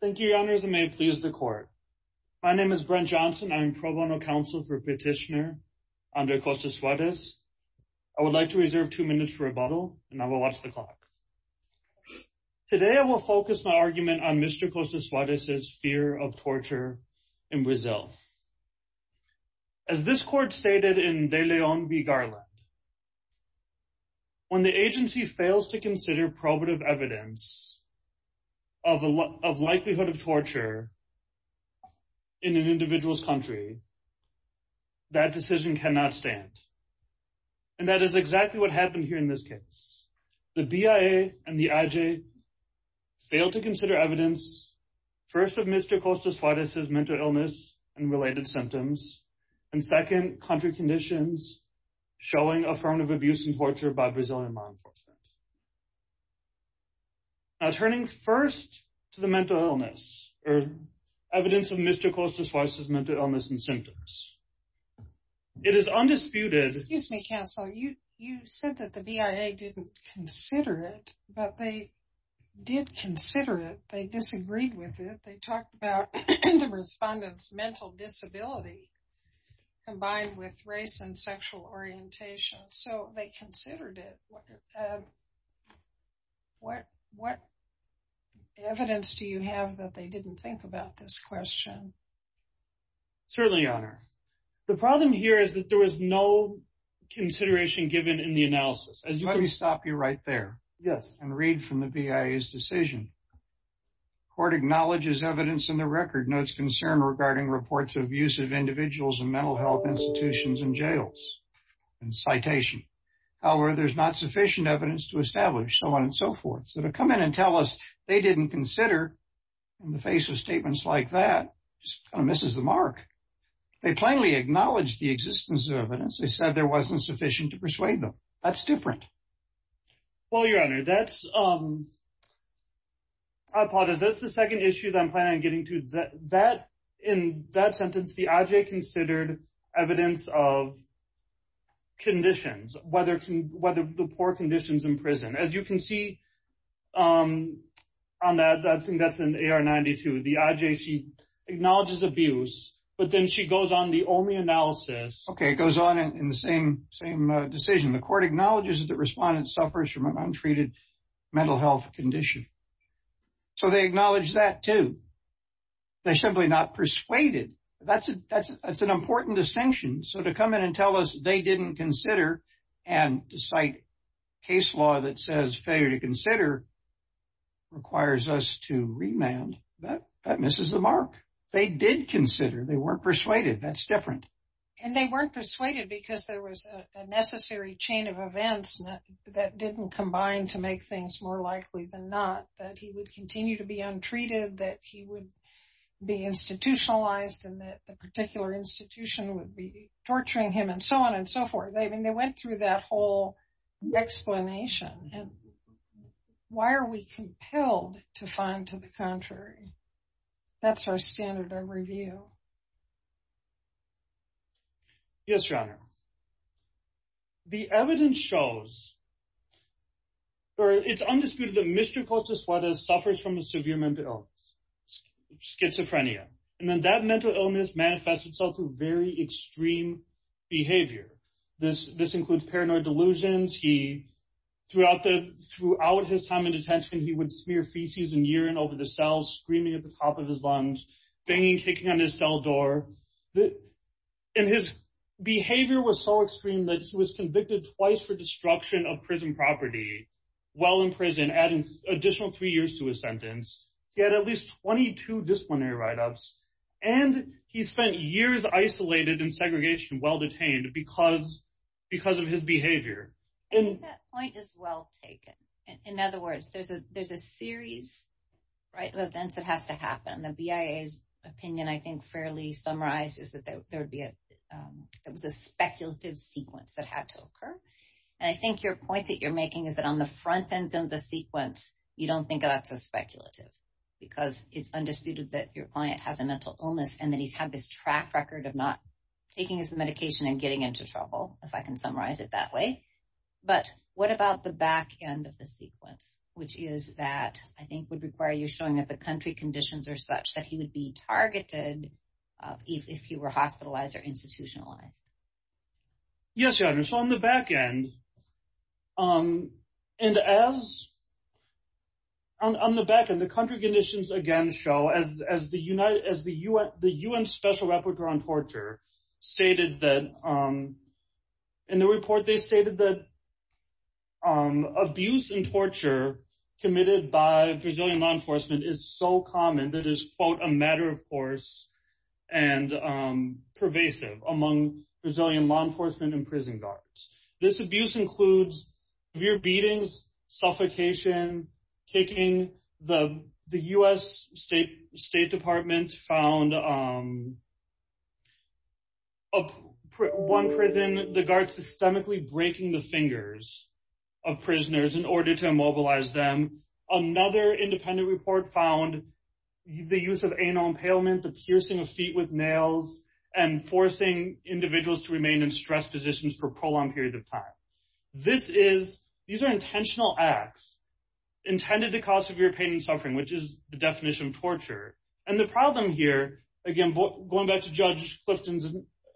Thank you, Your Honors, and may it please the Court. My name is Brent Johnson. I am Pro Bono Counsel for Petitioner Andre Costa Soares. I would like to reserve two minutes for rebuttal, and I will watch the clock. Today I will focus my argument on Mr. Costa Soares' fear of torture in Brazil. As this Court stated in De Leon v. Garland, when the agency fails to consider probative evidence of likelihood of torture in an individual's country, that decision cannot stand. And that is exactly what happened here in this case. The BIA and the IG failed to consider evidence, first, of Mr. Costa Soares' mental illness and related symptoms, and second, country conditions showing affirmative abuse and torture by Brazilian law enforcement. Now, turning first to the mental illness, or evidence of Mr. Costa Soares' mental illness and symptoms, it is undisputed... Excuse me, Counsel. You said that the BIA didn't consider it, but they did consider it. They disagreed with it. They talked about the respondent's mental disability combined with race and sexual orientation, so they considered it. What evidence do you have that they didn't think about this question? Certainly, Your Honor. The problem here is that there was no consideration given in the analysis. Let me stop you right there and read from the BIA's decision. Court acknowledges evidence in the record notes concern regarding reports of abusive individuals in mental health institutions and jails. And citation. However, there's not sufficient evidence to establish so on and so forth. So to come in and tell us they didn't consider in the face of statements like that just kind of misses the mark. They plainly acknowledged the existence of evidence. They said there wasn't sufficient to persuade them. That's different. Well, Your Honor, that's... I apologize. That's the second issue that I'm planning on getting to. In that sentence, the IJ considered evidence of conditions, whether the poor conditions in prison. As you can see on that, I think that's in AR-92, the IJ, she acknowledges abuse, but then she goes on the only analysis... The court acknowledges that the respondent suffers from an untreated mental health condition. So they acknowledge that, too. They're simply not persuaded. That's an important distinction. So to come in and tell us they didn't consider and to cite case law that says failure to consider requires us to remand, that misses the mark. They did consider. They weren't persuaded. That's different. And they weren't persuaded because there was a necessary chain of events that didn't combine to make things more likely than not, that he would continue to be untreated, that he would be institutionalized, and that the particular institution would be torturing him, and so on and so forth. I mean, they went through that whole explanation. And why are we compelled to find to the contrary? That's our standard of review. Yes, Your Honor. The evidence shows, or it's undisputed, that Mr. Cortez-Suarez suffers from a severe mental illness, schizophrenia. And then that mental illness manifests itself through very extreme behavior. This includes paranoid delusions. Throughout his time in detention, he would smear feces and urine over the cells, screaming at the top of his lungs, banging, kicking on his cell door. And his behavior was so extreme that he was convicted twice for destruction of prison property while in prison, adding additional three years to his sentence. He had at least 22 disciplinary write-ups. And he spent years isolated in segregation while detained because of his behavior. I think that point is well taken. In other words, there's a series of events that has to happen. The BIA's opinion, I think, fairly summarizes that there was a speculative sequence that had to occur. And I think your point that you're making is that on the front end of the sequence, you don't think of that as speculative because it's undisputed that your client has a mental illness and that he's had this track record of not taking his medication and getting into trouble, if I can summarize it that way. But what about the back end of the sequence, which is that I think would require you showing that the country conditions are such that he would be targeted if he were hospitalized or institutionalized? Yes, Your Honor. So on the back end, the country conditions again show, as the UN Special Rapporteur on Torture stated in the report, they stated that abuse and torture committed by Brazilian law enforcement is so common that it is, quote, a matter of course, and pervasive among Brazilian law enforcement and prison guards. This abuse includes severe beatings, suffocation, kicking. The U.S. State Department found one prison guard systemically breaking the fingers of prisoners in order to immobilize them. Another independent report found the use of anal impalement, the piercing of feet with nails, and forcing individuals to remain in stress positions for a prolonged period of time. These are intentional acts intended to cause severe pain and suffering, which is the definition of torture. And the problem here, again, going back to Judge Clifton's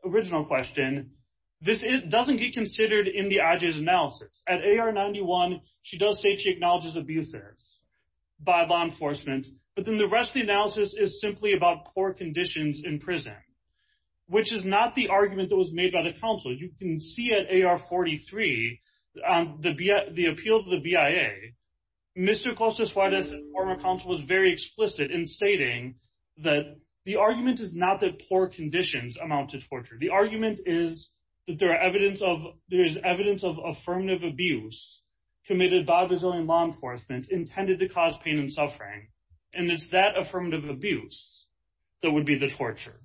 original question, this doesn't get considered in the IG's analysis. At AR-91, she does say she acknowledges abuse there by law enforcement. But then the rest of the analysis is simply about poor conditions in prison, which is not the argument that was made by the counsel. You can see at AR-43, the appeal to the BIA, Mr. Costa Suarez, the former counsel, was very explicit in stating that the argument is not that poor conditions amount to torture. The argument is that there is evidence of affirmative abuse committed by Brazilian law enforcement intended to cause pain and suffering. And it's that affirmative abuse that would be the torture.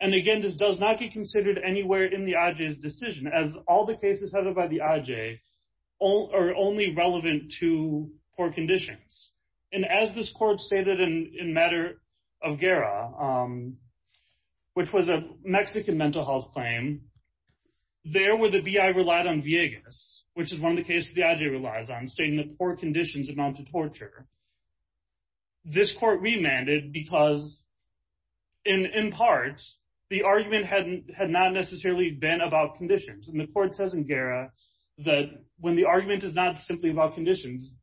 And, again, this does not get considered anywhere in the IG's decision, as all the cases headed by the IG are only relevant to poor conditions. And as this court stated in Matter of Guerra, which was a Mexican mental health claim, there where the BI relied on viegas, which is one of the cases the IG relies on, stating that poor conditions amount to torture, this court remanded because, in part, the argument had not necessarily been about conditions. And the court says in Guerra that when the argument is not simply about conditions,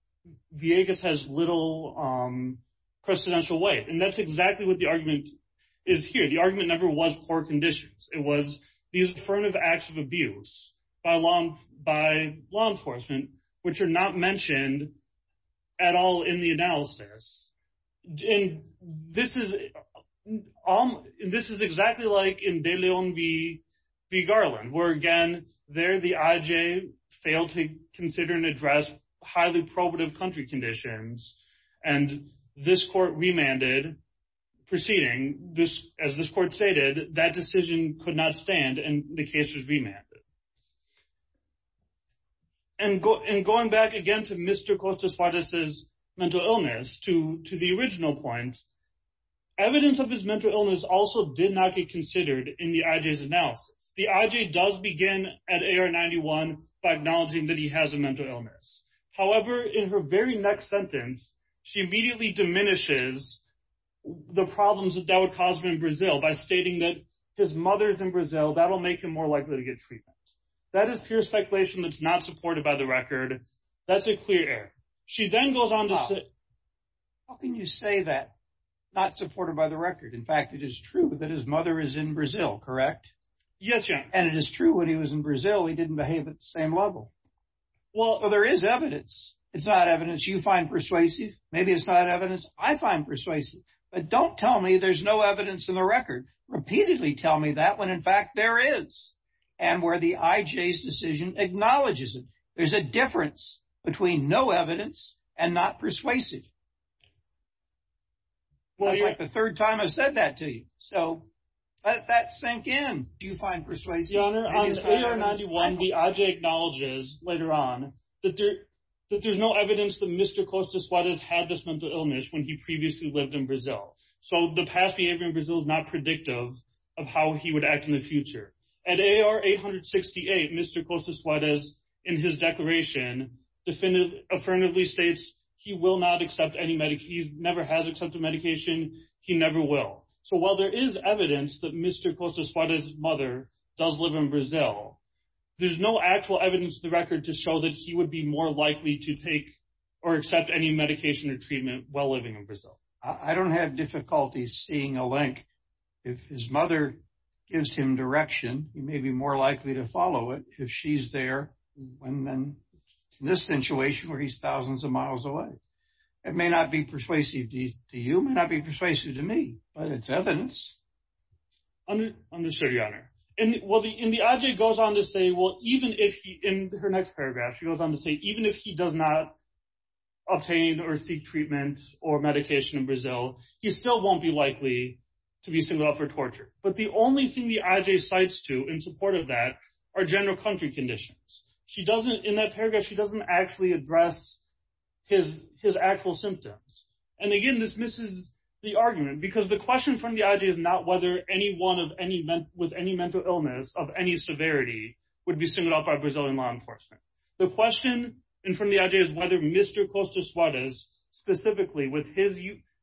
viegas has little precedential weight. And that's exactly what the argument is here. The argument never was poor conditions. It was these affirmative acts of abuse by law enforcement, which are not mentioned at all in the analysis. And this is exactly like in De Leon v. Garland, where, again, there the IG failed to consider and address highly probative country conditions. And this court remanded, proceeding, as this court stated, that decision could not stand, and the case was remanded. And going back again to Mr. Costa Suarez's mental illness, to the original point, evidence of his mental illness also did not get considered in the IG's analysis. The IG does begin at AR-91 by acknowledging that he has a mental illness. However, in her very next sentence, she immediately diminishes the problems that that would cause him in Brazil by stating that his mother is in Brazil. That will make him more likely to get treatment. That is pure speculation that's not supported by the record. That's a clear error. She then goes on to say... How can you say that, not supported by the record? In fact, it is true that his mother is in Brazil, correct? Yes, Your Honor. And it is true when he was in Brazil, he didn't behave at the same level. Well, there is evidence. It's not evidence you find persuasive. Maybe it's not evidence I find persuasive. But don't tell me there's no evidence in the record. Repeatedly tell me that when, in fact, there is. And where the IG's decision acknowledges it. There's a difference between no evidence and not persuasive. That's like the third time I've said that to you. So, that sank in. Do you find persuasive? Yes, Your Honor. On AR-91, the IG acknowledges, later on, that there's no evidence that Mr. Costa Suarez had this mental illness when he previously lived in Brazil. So, the past behavior in Brazil is not predictive of how he would act in the future. At AR-868, Mr. Costa Suarez, in his declaration, affirmatively states he will not accept any medication. He never has accepted medication. He never will. So, while there is evidence that Mr. Costa Suarez's mother does live in Brazil, there's no actual evidence in the record to show that he would be more likely to take or accept any medication or treatment while living in Brazil. I don't have difficulty seeing a link. If his mother gives him direction, he may be more likely to follow it if she's there than in this situation where he's thousands of miles away. It may not be persuasive to you. It may not be persuasive to me, but it's evidence. Understood, Your Honor. And the IJ goes on to say, well, even if he, in her next paragraph, she goes on to say even if he does not obtain or seek treatment or medication in Brazil, he still won't be likely to be singled out for torture. But the only thing the IJ cites to in support of that are general country conditions. In that paragraph, she doesn't actually address his actual symptoms. And, again, this misses the argument because the question from the IJ is not whether anyone with any mental illness of any severity would be singled out by Brazilian law enforcement. The question from the IJ is whether Mr. Costa Suarez, specifically with his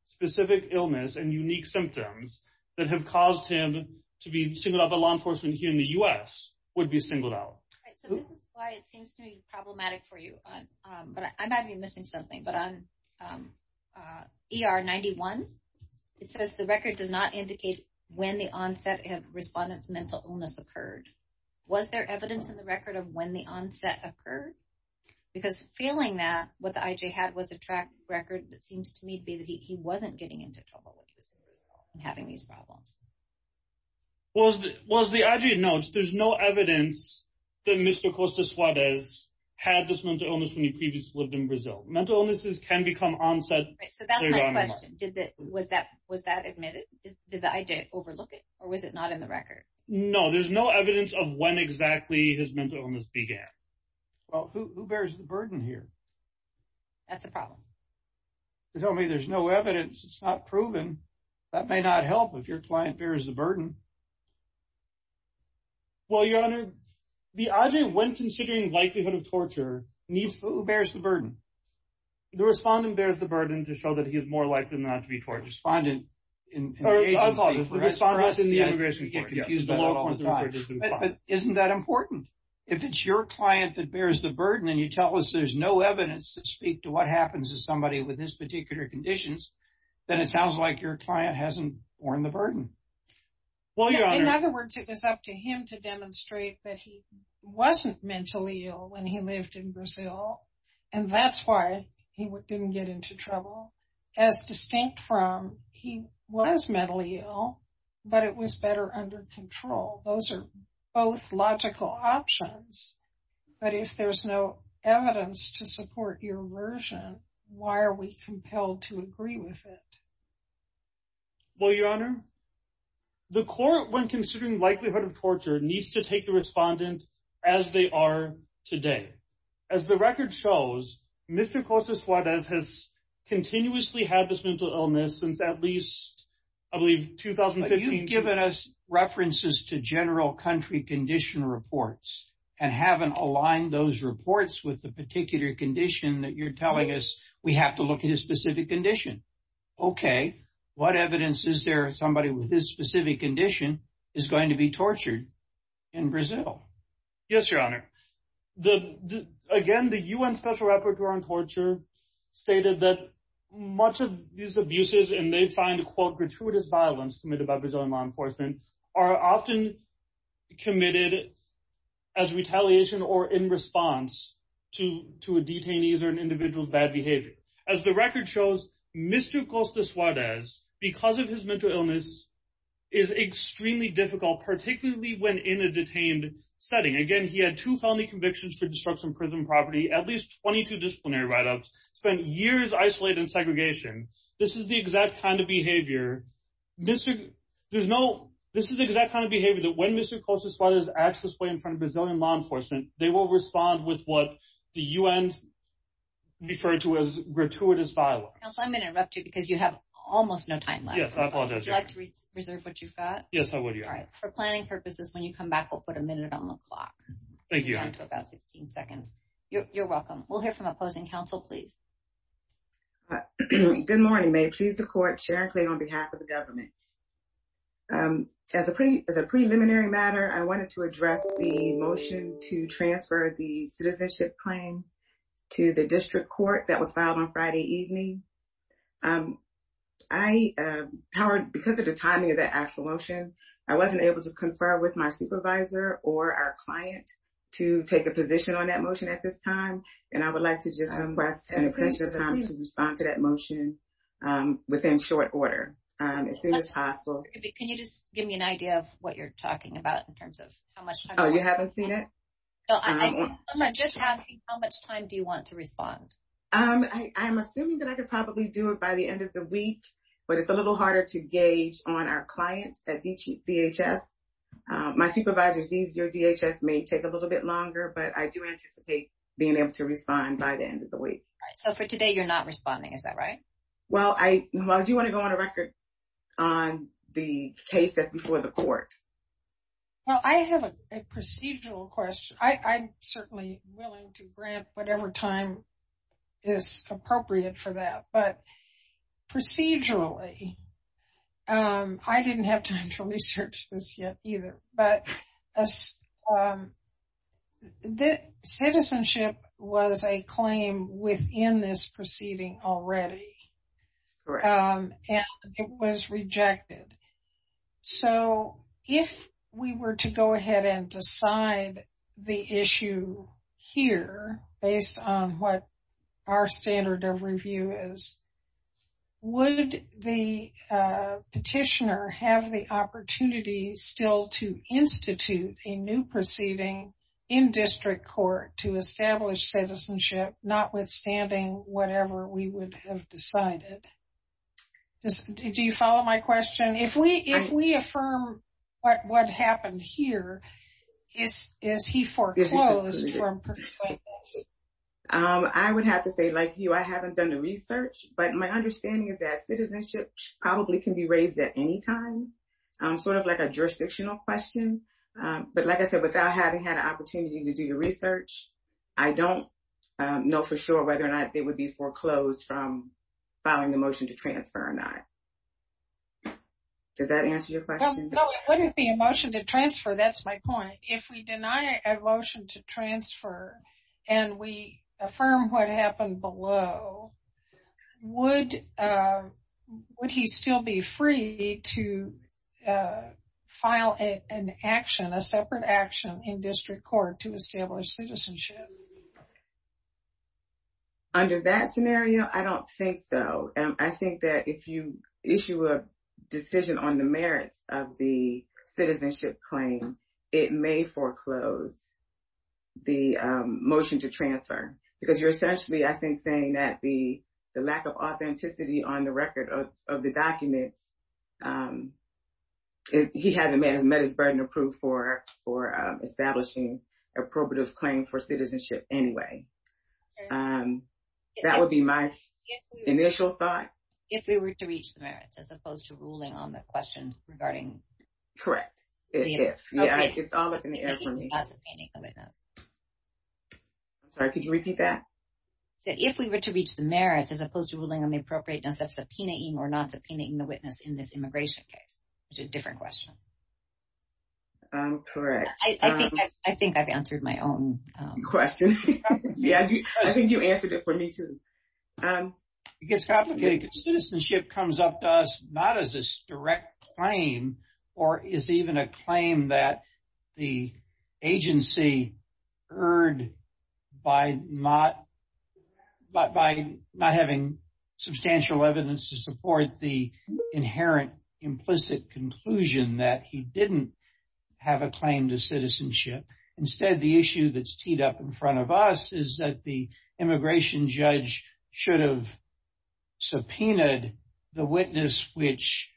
specific illness and unique symptoms that have caused him to be singled out by law enforcement here in the U.S. would be singled out. So this is why it seems to be problematic for you. But I might be missing something. But on ER 91, it says the record does not indicate when the onset of respondent's mental illness occurred. Was there evidence in the record of when the onset occurred? Because feeling that what the IJ had was a track record, it seems to me to be that he wasn't getting into trouble when he was in Brazil and having these problems. Well, as the IJ notes, there's no evidence that Mr. Costa Suarez had this mental illness when he previously lived in Brazil. Mental illnesses can become onset. So that's my question. Was that admitted? Did the IJ overlook it? Or was it not in the record? No, there's no evidence of when exactly his mental illness began. Well, who bears the burden here? That's a problem. You're telling me there's no evidence. It's not proven. That may not help if your client bears the burden. Well, Your Honor, the IJ, when considering likelihood of torture, who bears the burden? The respondent bears the burden to show that he is more likely not to be tortured. The respondent in the agency. I apologize. The respondent is in the immigration court. Yes. You get confused about it all the time. But isn't that important? If it's your client that bears the burden and you tell us there's no evidence to speak to what happens to somebody with this particular conditions, then it sounds like your client hasn't borne the burden. In other words, it was up to him to demonstrate that he wasn't mentally ill when he lived in Brazil. And that's why he didn't get into trouble. As distinct from he was mentally ill, but it was better under control. Those are both logical options. But if there's no evidence to support your version, why are we compelled to agree with it? Well, Your Honor, the court, when considering likelihood of torture, needs to take the respondent as they are today. As the record shows, Mr. Cosa Suarez has continuously had this mental illness since at least, I believe, 2015. So you've given us references to general country condition reports and haven't aligned those reports with the particular condition that you're telling us we have to look at a specific condition. Okay. What evidence is there somebody with this specific condition is going to be tortured in Brazil? Yes, Your Honor. Again, the UN Special Rapporteur on Torture stated that much of these abuses, and they find, quote, gratuitous violence committed by Brazilian law enforcement, are often committed as retaliation or in response to a detainee or an individual's bad behavior. As the record shows, Mr. Costa Suarez, because of his mental illness, is extremely difficult, particularly when in a detained setting. Again, he had two felony convictions for destruction of prison property, at least 22 disciplinary write-ups, spent years isolated in segregation. This is the exact kind of behavior. This is the exact kind of behavior that when Mr. Costa Suarez acts this way in front of Brazilian law enforcement, they will respond with what the UN referred to as gratuitous violence. Counsel, I'm going to interrupt you because you have almost no time left. Yes, I apologize, Your Honor. Would you like to reserve what you've got? Yes, I would, Your Honor. All right. For planning purposes, when you come back, we'll put a minute on the clock. Thank you, Your Honor. You have about 16 seconds. You're welcome. We'll hear from opposing counsel, please. Good morning. May it please the Court, Sharon Clay on behalf of the government. As a preliminary matter, I wanted to address the motion to transfer the citizenship claim to the district court that was filed on Friday evening. Because of the timing of the actual motion, I wasn't able to confer with my supervisor or our client to take a position on that motion at this time. And I would like to just request an extension of time to respond to that motion within short order as soon as possible. Can you just give me an idea of what you're talking about in terms of how much time? Oh, you haven't seen it? No, I'm just asking how much time do you want to respond? I'm assuming that I could probably do it by the end of the week, but it's a little harder to gauge on our clients at DHS. My supervisor sees your DHS may take a little bit longer, but I do anticipate being able to respond by the end of the week. All right. So for today, you're not responding. Is that right? Well, I do want to go on a record on the case that's before the court. Well, I have a procedural question. I'm certainly willing to grant whatever time is appropriate for that. But procedurally, I didn't have time to research this yet either. But citizenship was a claim within this proceeding already, and it was rejected. So if we were to go ahead and decide the issue here based on what our standard of review is, would the petitioner have the opportunity still to institute a new proceeding in district court to establish citizenship, notwithstanding whatever we would have decided? Do you follow my question? If we affirm what happened here, is he foreclosed from pursuing this? I would have to say, like you, I haven't done the research. But my understanding is that citizenship probably can be raised at any time, sort of like a jurisdictional question. But like I said, without having had an opportunity to do the research, I don't know for sure whether or not it would be foreclosed from filing the motion to transfer or not. Does that answer your question? No, it wouldn't be a motion to transfer. That's my point. If we deny a motion to transfer and we affirm what happened below, would he still be free to file an action, a separate action in district court to establish citizenship? Under that scenario, I don't think so. I think that if you issue a decision on the merits of the citizenship claim, it may foreclose the motion to transfer. Because you're essentially, I think, saying that the lack of authenticity on the record of the documents, he hasn't met his burden of proof for establishing a probative claim for citizenship anyway. That would be my initial thought. If we were to reach the merits, as opposed to ruling on the question regarding... Correct. It's all up in the air for me. I'm sorry, could you repeat that? If we were to reach the merits, as opposed to ruling on the appropriateness of subpoenaing or not subpoenaing the witness in this immigration case, which is a different question. Correct. I think I've answered my own question. Yeah, I think you answered it for me too. It gets complicated. Citizenship comes up to us not as a direct claim or is even a claim that the agency heard by not having substantial evidence to support the inherent implicit conclusion that he didn't have a claim to citizenship. Instead, the issue that's teed up in front of us is that the immigration judge should have subpoenaed the witness, which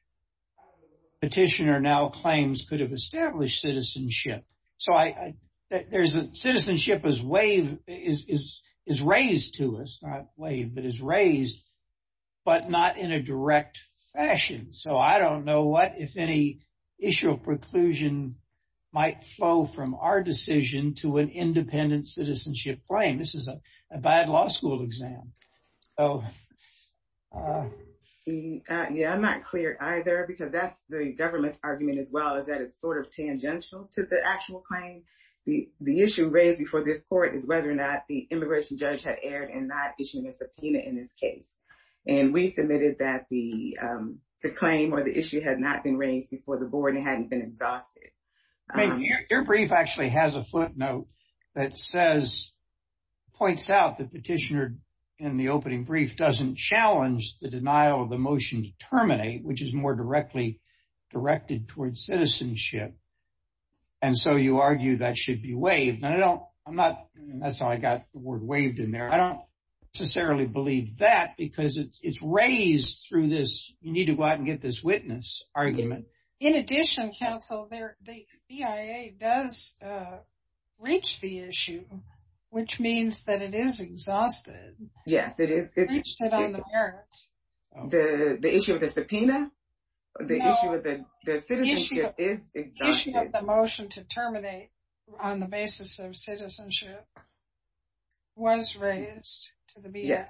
petitioner now claims could have established citizenship. Citizenship is raised to us, not waived, but is raised, but not in a direct fashion. So I don't know what, if any, issue or preclusion might flow from our decision to an independent citizenship claim. This is a bad law school exam. Yeah, I'm not clear either, because that's the government's argument as well, is that it's sort of tangential to the actual claim. The issue raised before this court is whether or not the immigration judge had erred in not issuing a subpoena in this case. And we submitted that the claim or the issue had not been raised before the board and hadn't been exhausted. Your brief actually has a footnote that says, points out the petitioner in the opening brief doesn't challenge the denial of the motion to terminate, which is more directly directed towards citizenship. And so you argue that should be waived. And I don't, I'm not, that's how I got the word waived in there. I don't necessarily believe that because it's raised through this, you need to go out and get this witness argument. In addition, counsel, the BIA does reach the issue, which means that it is exhausted. Yes, it is. Reached it on the merits. The issue of the subpoena? No. The issue of the citizenship is exhausted. The issue of the motion to terminate on the basis of citizenship was raised to the BIA. Yes.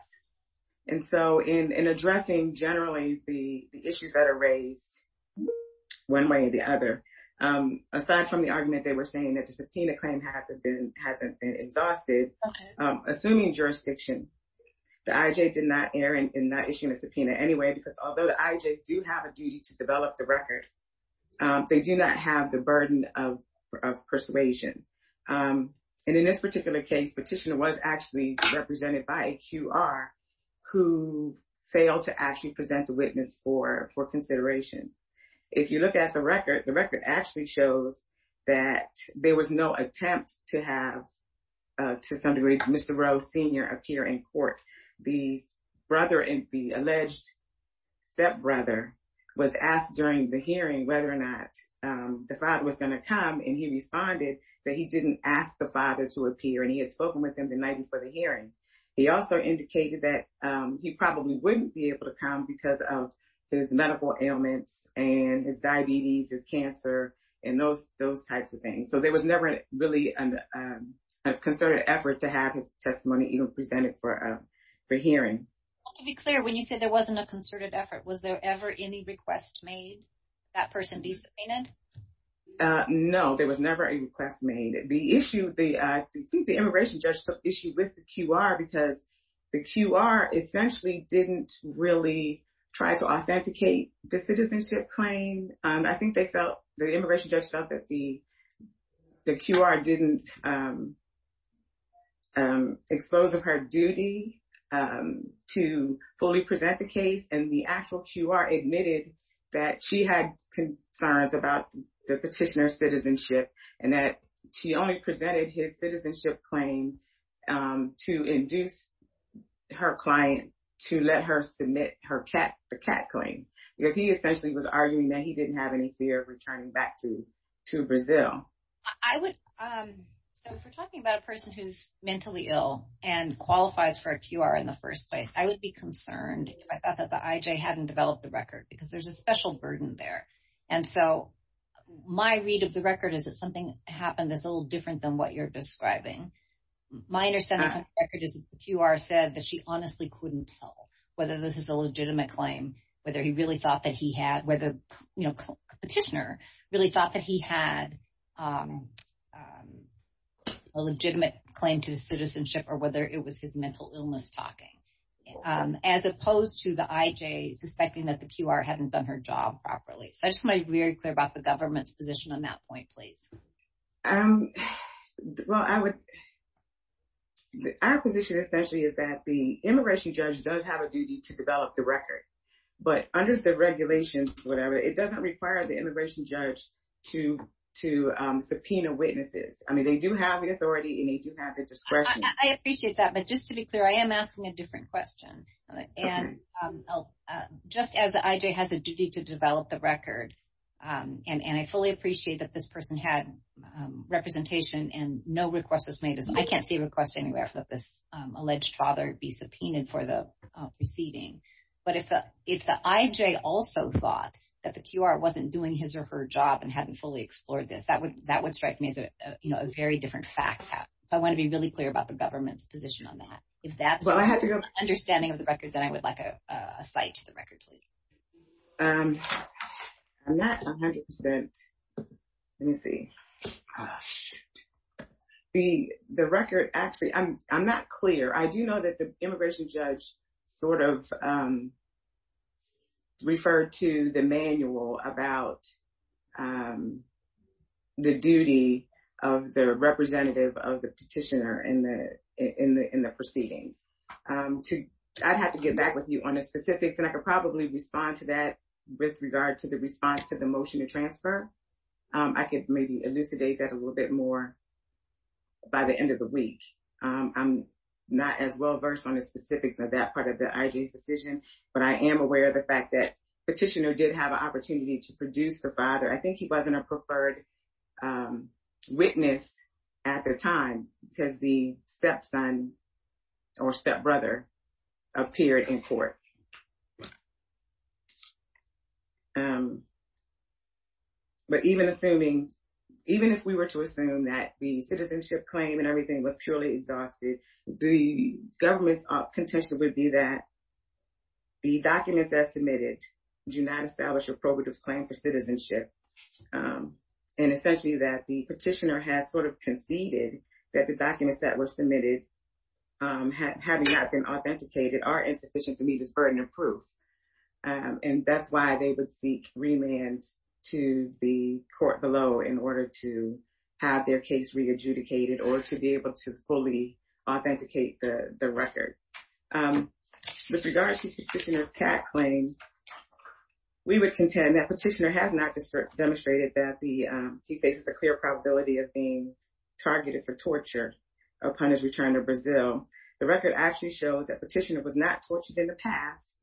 And so in addressing generally the issues that are raised one way or the other, aside from the argument they were saying that the subpoena claim hasn't been exhausted, assuming jurisdiction, the IJ did not err in not issuing a subpoena anyway, because although the IJ do have a duty to develop the record, they do not have the burden of persuasion. And in this particular case, petitioner was actually represented by a QR who failed to actually present the witness for consideration. If you look at the record, the record actually shows that there was no attempt to have, to some degree, Mr. Rose Sr. appear in court. The alleged stepbrother was asked during the hearing whether or not the father was going to come, and he responded that he didn't ask the father to appear, and he had spoken with him the night before the hearing. He also indicated that he probably wouldn't be able to come because of his medical ailments and his diabetes, his cancer, and those types of things. So there was never really a concerted effort to have his testimony even presented for hearing. To be clear, when you say there wasn't a concerted effort, was there ever any request made that person be subpoenaed? No, there was never a request made. The issue, I think the immigration judge took issue with the QR because the QR essentially didn't really try to authenticate the citizenship claim. I think they felt, the immigration judge felt that the QR didn't expose of her duty to fully present the case, and the actual QR admitted that she had concerns about the petitioner's citizenship, and that she only presented his citizenship claim to induce her client to let her submit the CAT claim, because he essentially was arguing that he didn't have any fear of returning back to Brazil. So if we're talking about a person who's mentally ill and qualifies for a QR in the first place, I would be concerned if I thought that the IJ hadn't developed the record, because there's a special burden there. And so my read of the record is that something happened that's a little different than what you're describing. My understanding of the record is that the QR said that she honestly couldn't tell whether this is a legitimate claim, whether he really thought that he had, whether the petitioner really thought that he had a legitimate claim to his citizenship, or whether it was his mental illness talking. As opposed to the IJ suspecting that the QR hadn't done her job properly. So I just want to be very clear about the government's position on that point, please. Well, our position essentially is that the immigration judge does have a duty to develop the record. But under the regulations, whatever, it doesn't require the immigration judge to subpoena witnesses. I mean, they do have the authority and they do have the discretion. I appreciate that. But just to be clear, I am asking a different question. And just as the IJ has a duty to develop the record, and I fully appreciate that this person had representation and no request was made, as I can't see a request anywhere for this alleged father to be subpoenaed for the proceeding. But if the IJ also thought that the QR wasn't doing his or her job and hadn't fully explored this, that would strike me as a very different fact. So I want to be really clear about the government's position on that. If that's the understanding of the record, then I would like a cite to the record, please. I'm not 100%. Let me see. The record, actually, I'm not clear. I do know that the immigration judge sort of referred to the manual about the duty of the representative of the petitioner in the proceedings. I'd have to get back with you on the specifics. And I could probably respond to that with regard to the response to the motion to transfer. I could maybe elucidate that a little bit more by the end of the week. I'm not as well versed on the specifics of that part of the IJ's decision. But I am aware of the fact that the petitioner did have an opportunity to produce the father. I think he wasn't a preferred witness at the time because the stepson or stepbrother appeared in court. But even assuming, even if we were to assume that the citizenship claim and everything was purely exhausted, the government's contention would be that the documents that submitted do not establish a probative claim for citizenship. And essentially that the petitioner has sort of conceded that the documents that were submitted, having not been authenticated, are insufficient to meet his burden of proof. And that's why they would seek remand to the court below in order to have their case re-adjudicated or to be able to fully authenticate the record. With regard to the petitioner's tax claim, we would contend that the petitioner has not demonstrated that he faces a clear probability of being targeted for torture upon his return to Brazil. The record actually shows that the petitioner was not tortured in the past.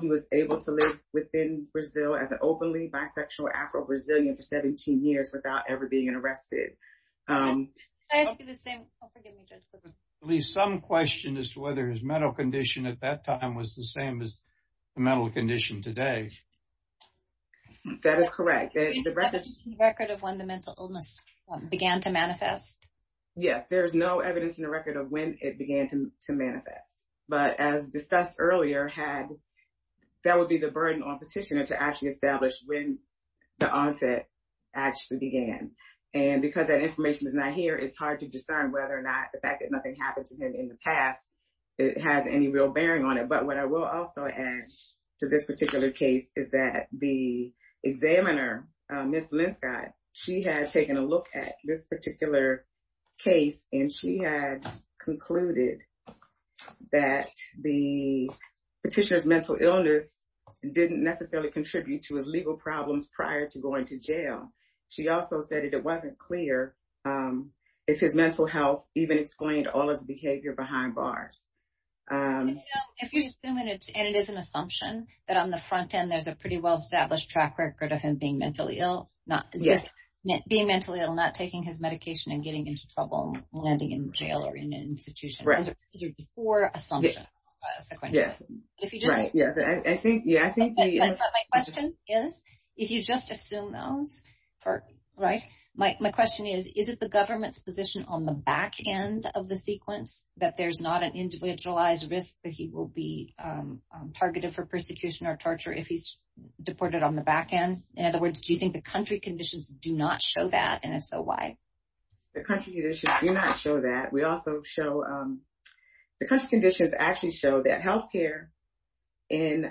He was able to live within Brazil as an openly bisexual Afro-Brazilian for 17 years without ever being arrested. Can I ask you the same? Oh, forgive me, Judge. At least some question as to whether his mental condition at that time was the same as the mental condition today. That is correct. The record of when the mental illness began to manifest. Yes, there's no evidence in the record of when it began to manifest. But as discussed earlier, that would be the burden on petitioner to actually establish when the onset actually began. And because that information is not here, it's hard to discern whether or not the fact that nothing happened to him in the past has any real bearing on it. But what I will also add to this particular case is that the examiner, Ms. Linscott, she had taken a look at this particular case and she had concluded that the petitioner's mental illness didn't necessarily contribute to his legal problems prior to going to jail. She also said that it wasn't clear if his mental health even explained all his behavior behind bars. And it is an assumption that on the front end, there's a pretty well-established track record of him being mentally ill, not taking his medication and getting into trouble, landing in jail or in an institution. These are the four assumptions. My question is, if you just assume those, my question is, is it the government's position on the back end of the sequence that there's not an individualized risk that he will be targeted for persecution or torture if he's deported on the back end? In other words, do you think the country conditions do not show that? And if so, why? The country conditions do not show that. The country conditions actually show that health care in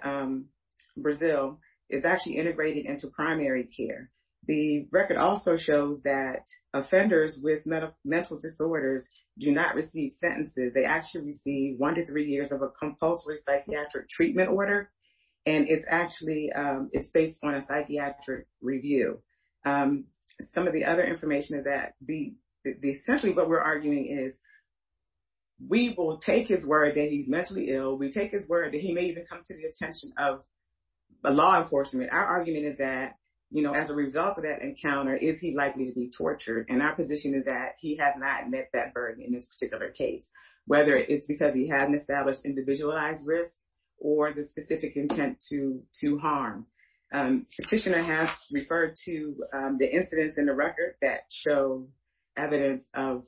Brazil is actually integrated into primary care. The record also shows that offenders with mental disorders do not receive sentences. They actually receive one to three years of a compulsory psychiatric treatment order. And it's based on a psychiatric review. Some of the other information is that essentially what we're arguing is we will take his word that he's mentally ill. We take his word that he may even come to the attention of law enforcement. Our argument is that, you know, as a result of that encounter, is he likely to be tortured? And our position is that he has not met that burden in this particular case, whether it's because he hadn't established individualized risk or the specific intent to harm. Petitioner has referred to the incidents in the record that show evidence of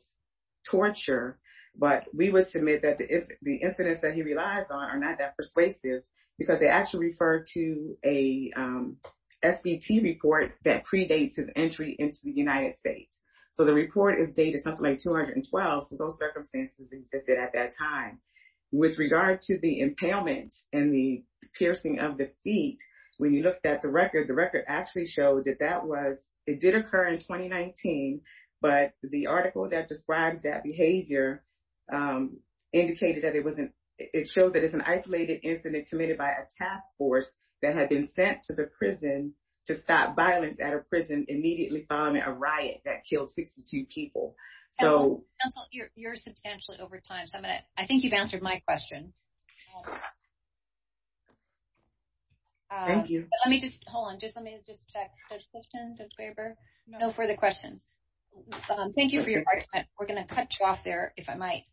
torture. But we would submit that the incidents that he relies on are not that persuasive because they actually refer to a SBT report that predates his entry into the United States. So the report is dated something like 212. So those circumstances existed at that time. With regard to the impalement and the piercing of the feet, when you looked at the record, the record actually showed that that was it did occur in 2019. But the article that describes that behavior indicated that it wasn't it shows that it's an isolated incident committed by a task force that had been sent to the prison to stop violence at a prison immediately following a riot that killed 62 people. So you're substantially over time. So I think you've answered my question. Thank you. Let me just hold on. Just let me just check. No further questions. Thank you for your argument. We're going to cut you off there, if I might.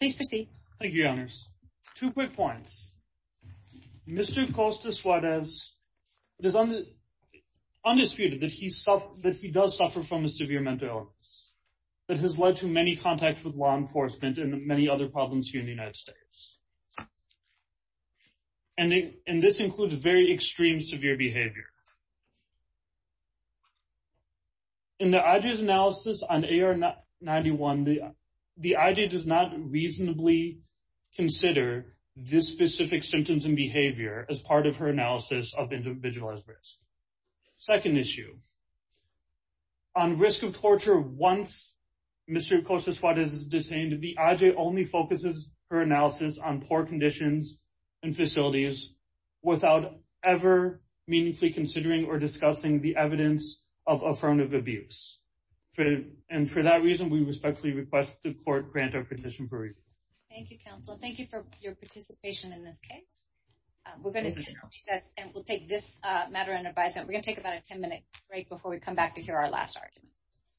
Please proceed. Thank you, Your Honors. Two quick points. Mr. Costa Suarez, it is undisputed that he does suffer from a severe mental illness that has led to many contacts with law enforcement and many other problems here in the United States. And this includes very extreme severe behavior. In the IJ's analysis on AR-91, the IJ does not reasonably consider this specific symptoms and behavior as part of her analysis of individualized risk. Second issue. On risk of torture, once Mr. Costa Suarez is detained, the IJ only focuses her analysis on poor conditions and facilities without ever meaningfully considering or discussing the evidence of affirmative abuse. And for that reason, we respectfully request the court grant our petition for review. Thank you, counsel. Thank you for your participation in this case. We're going to take this matter under advisement. We're going to take about a 10 minute break before we come back to hear our last argument.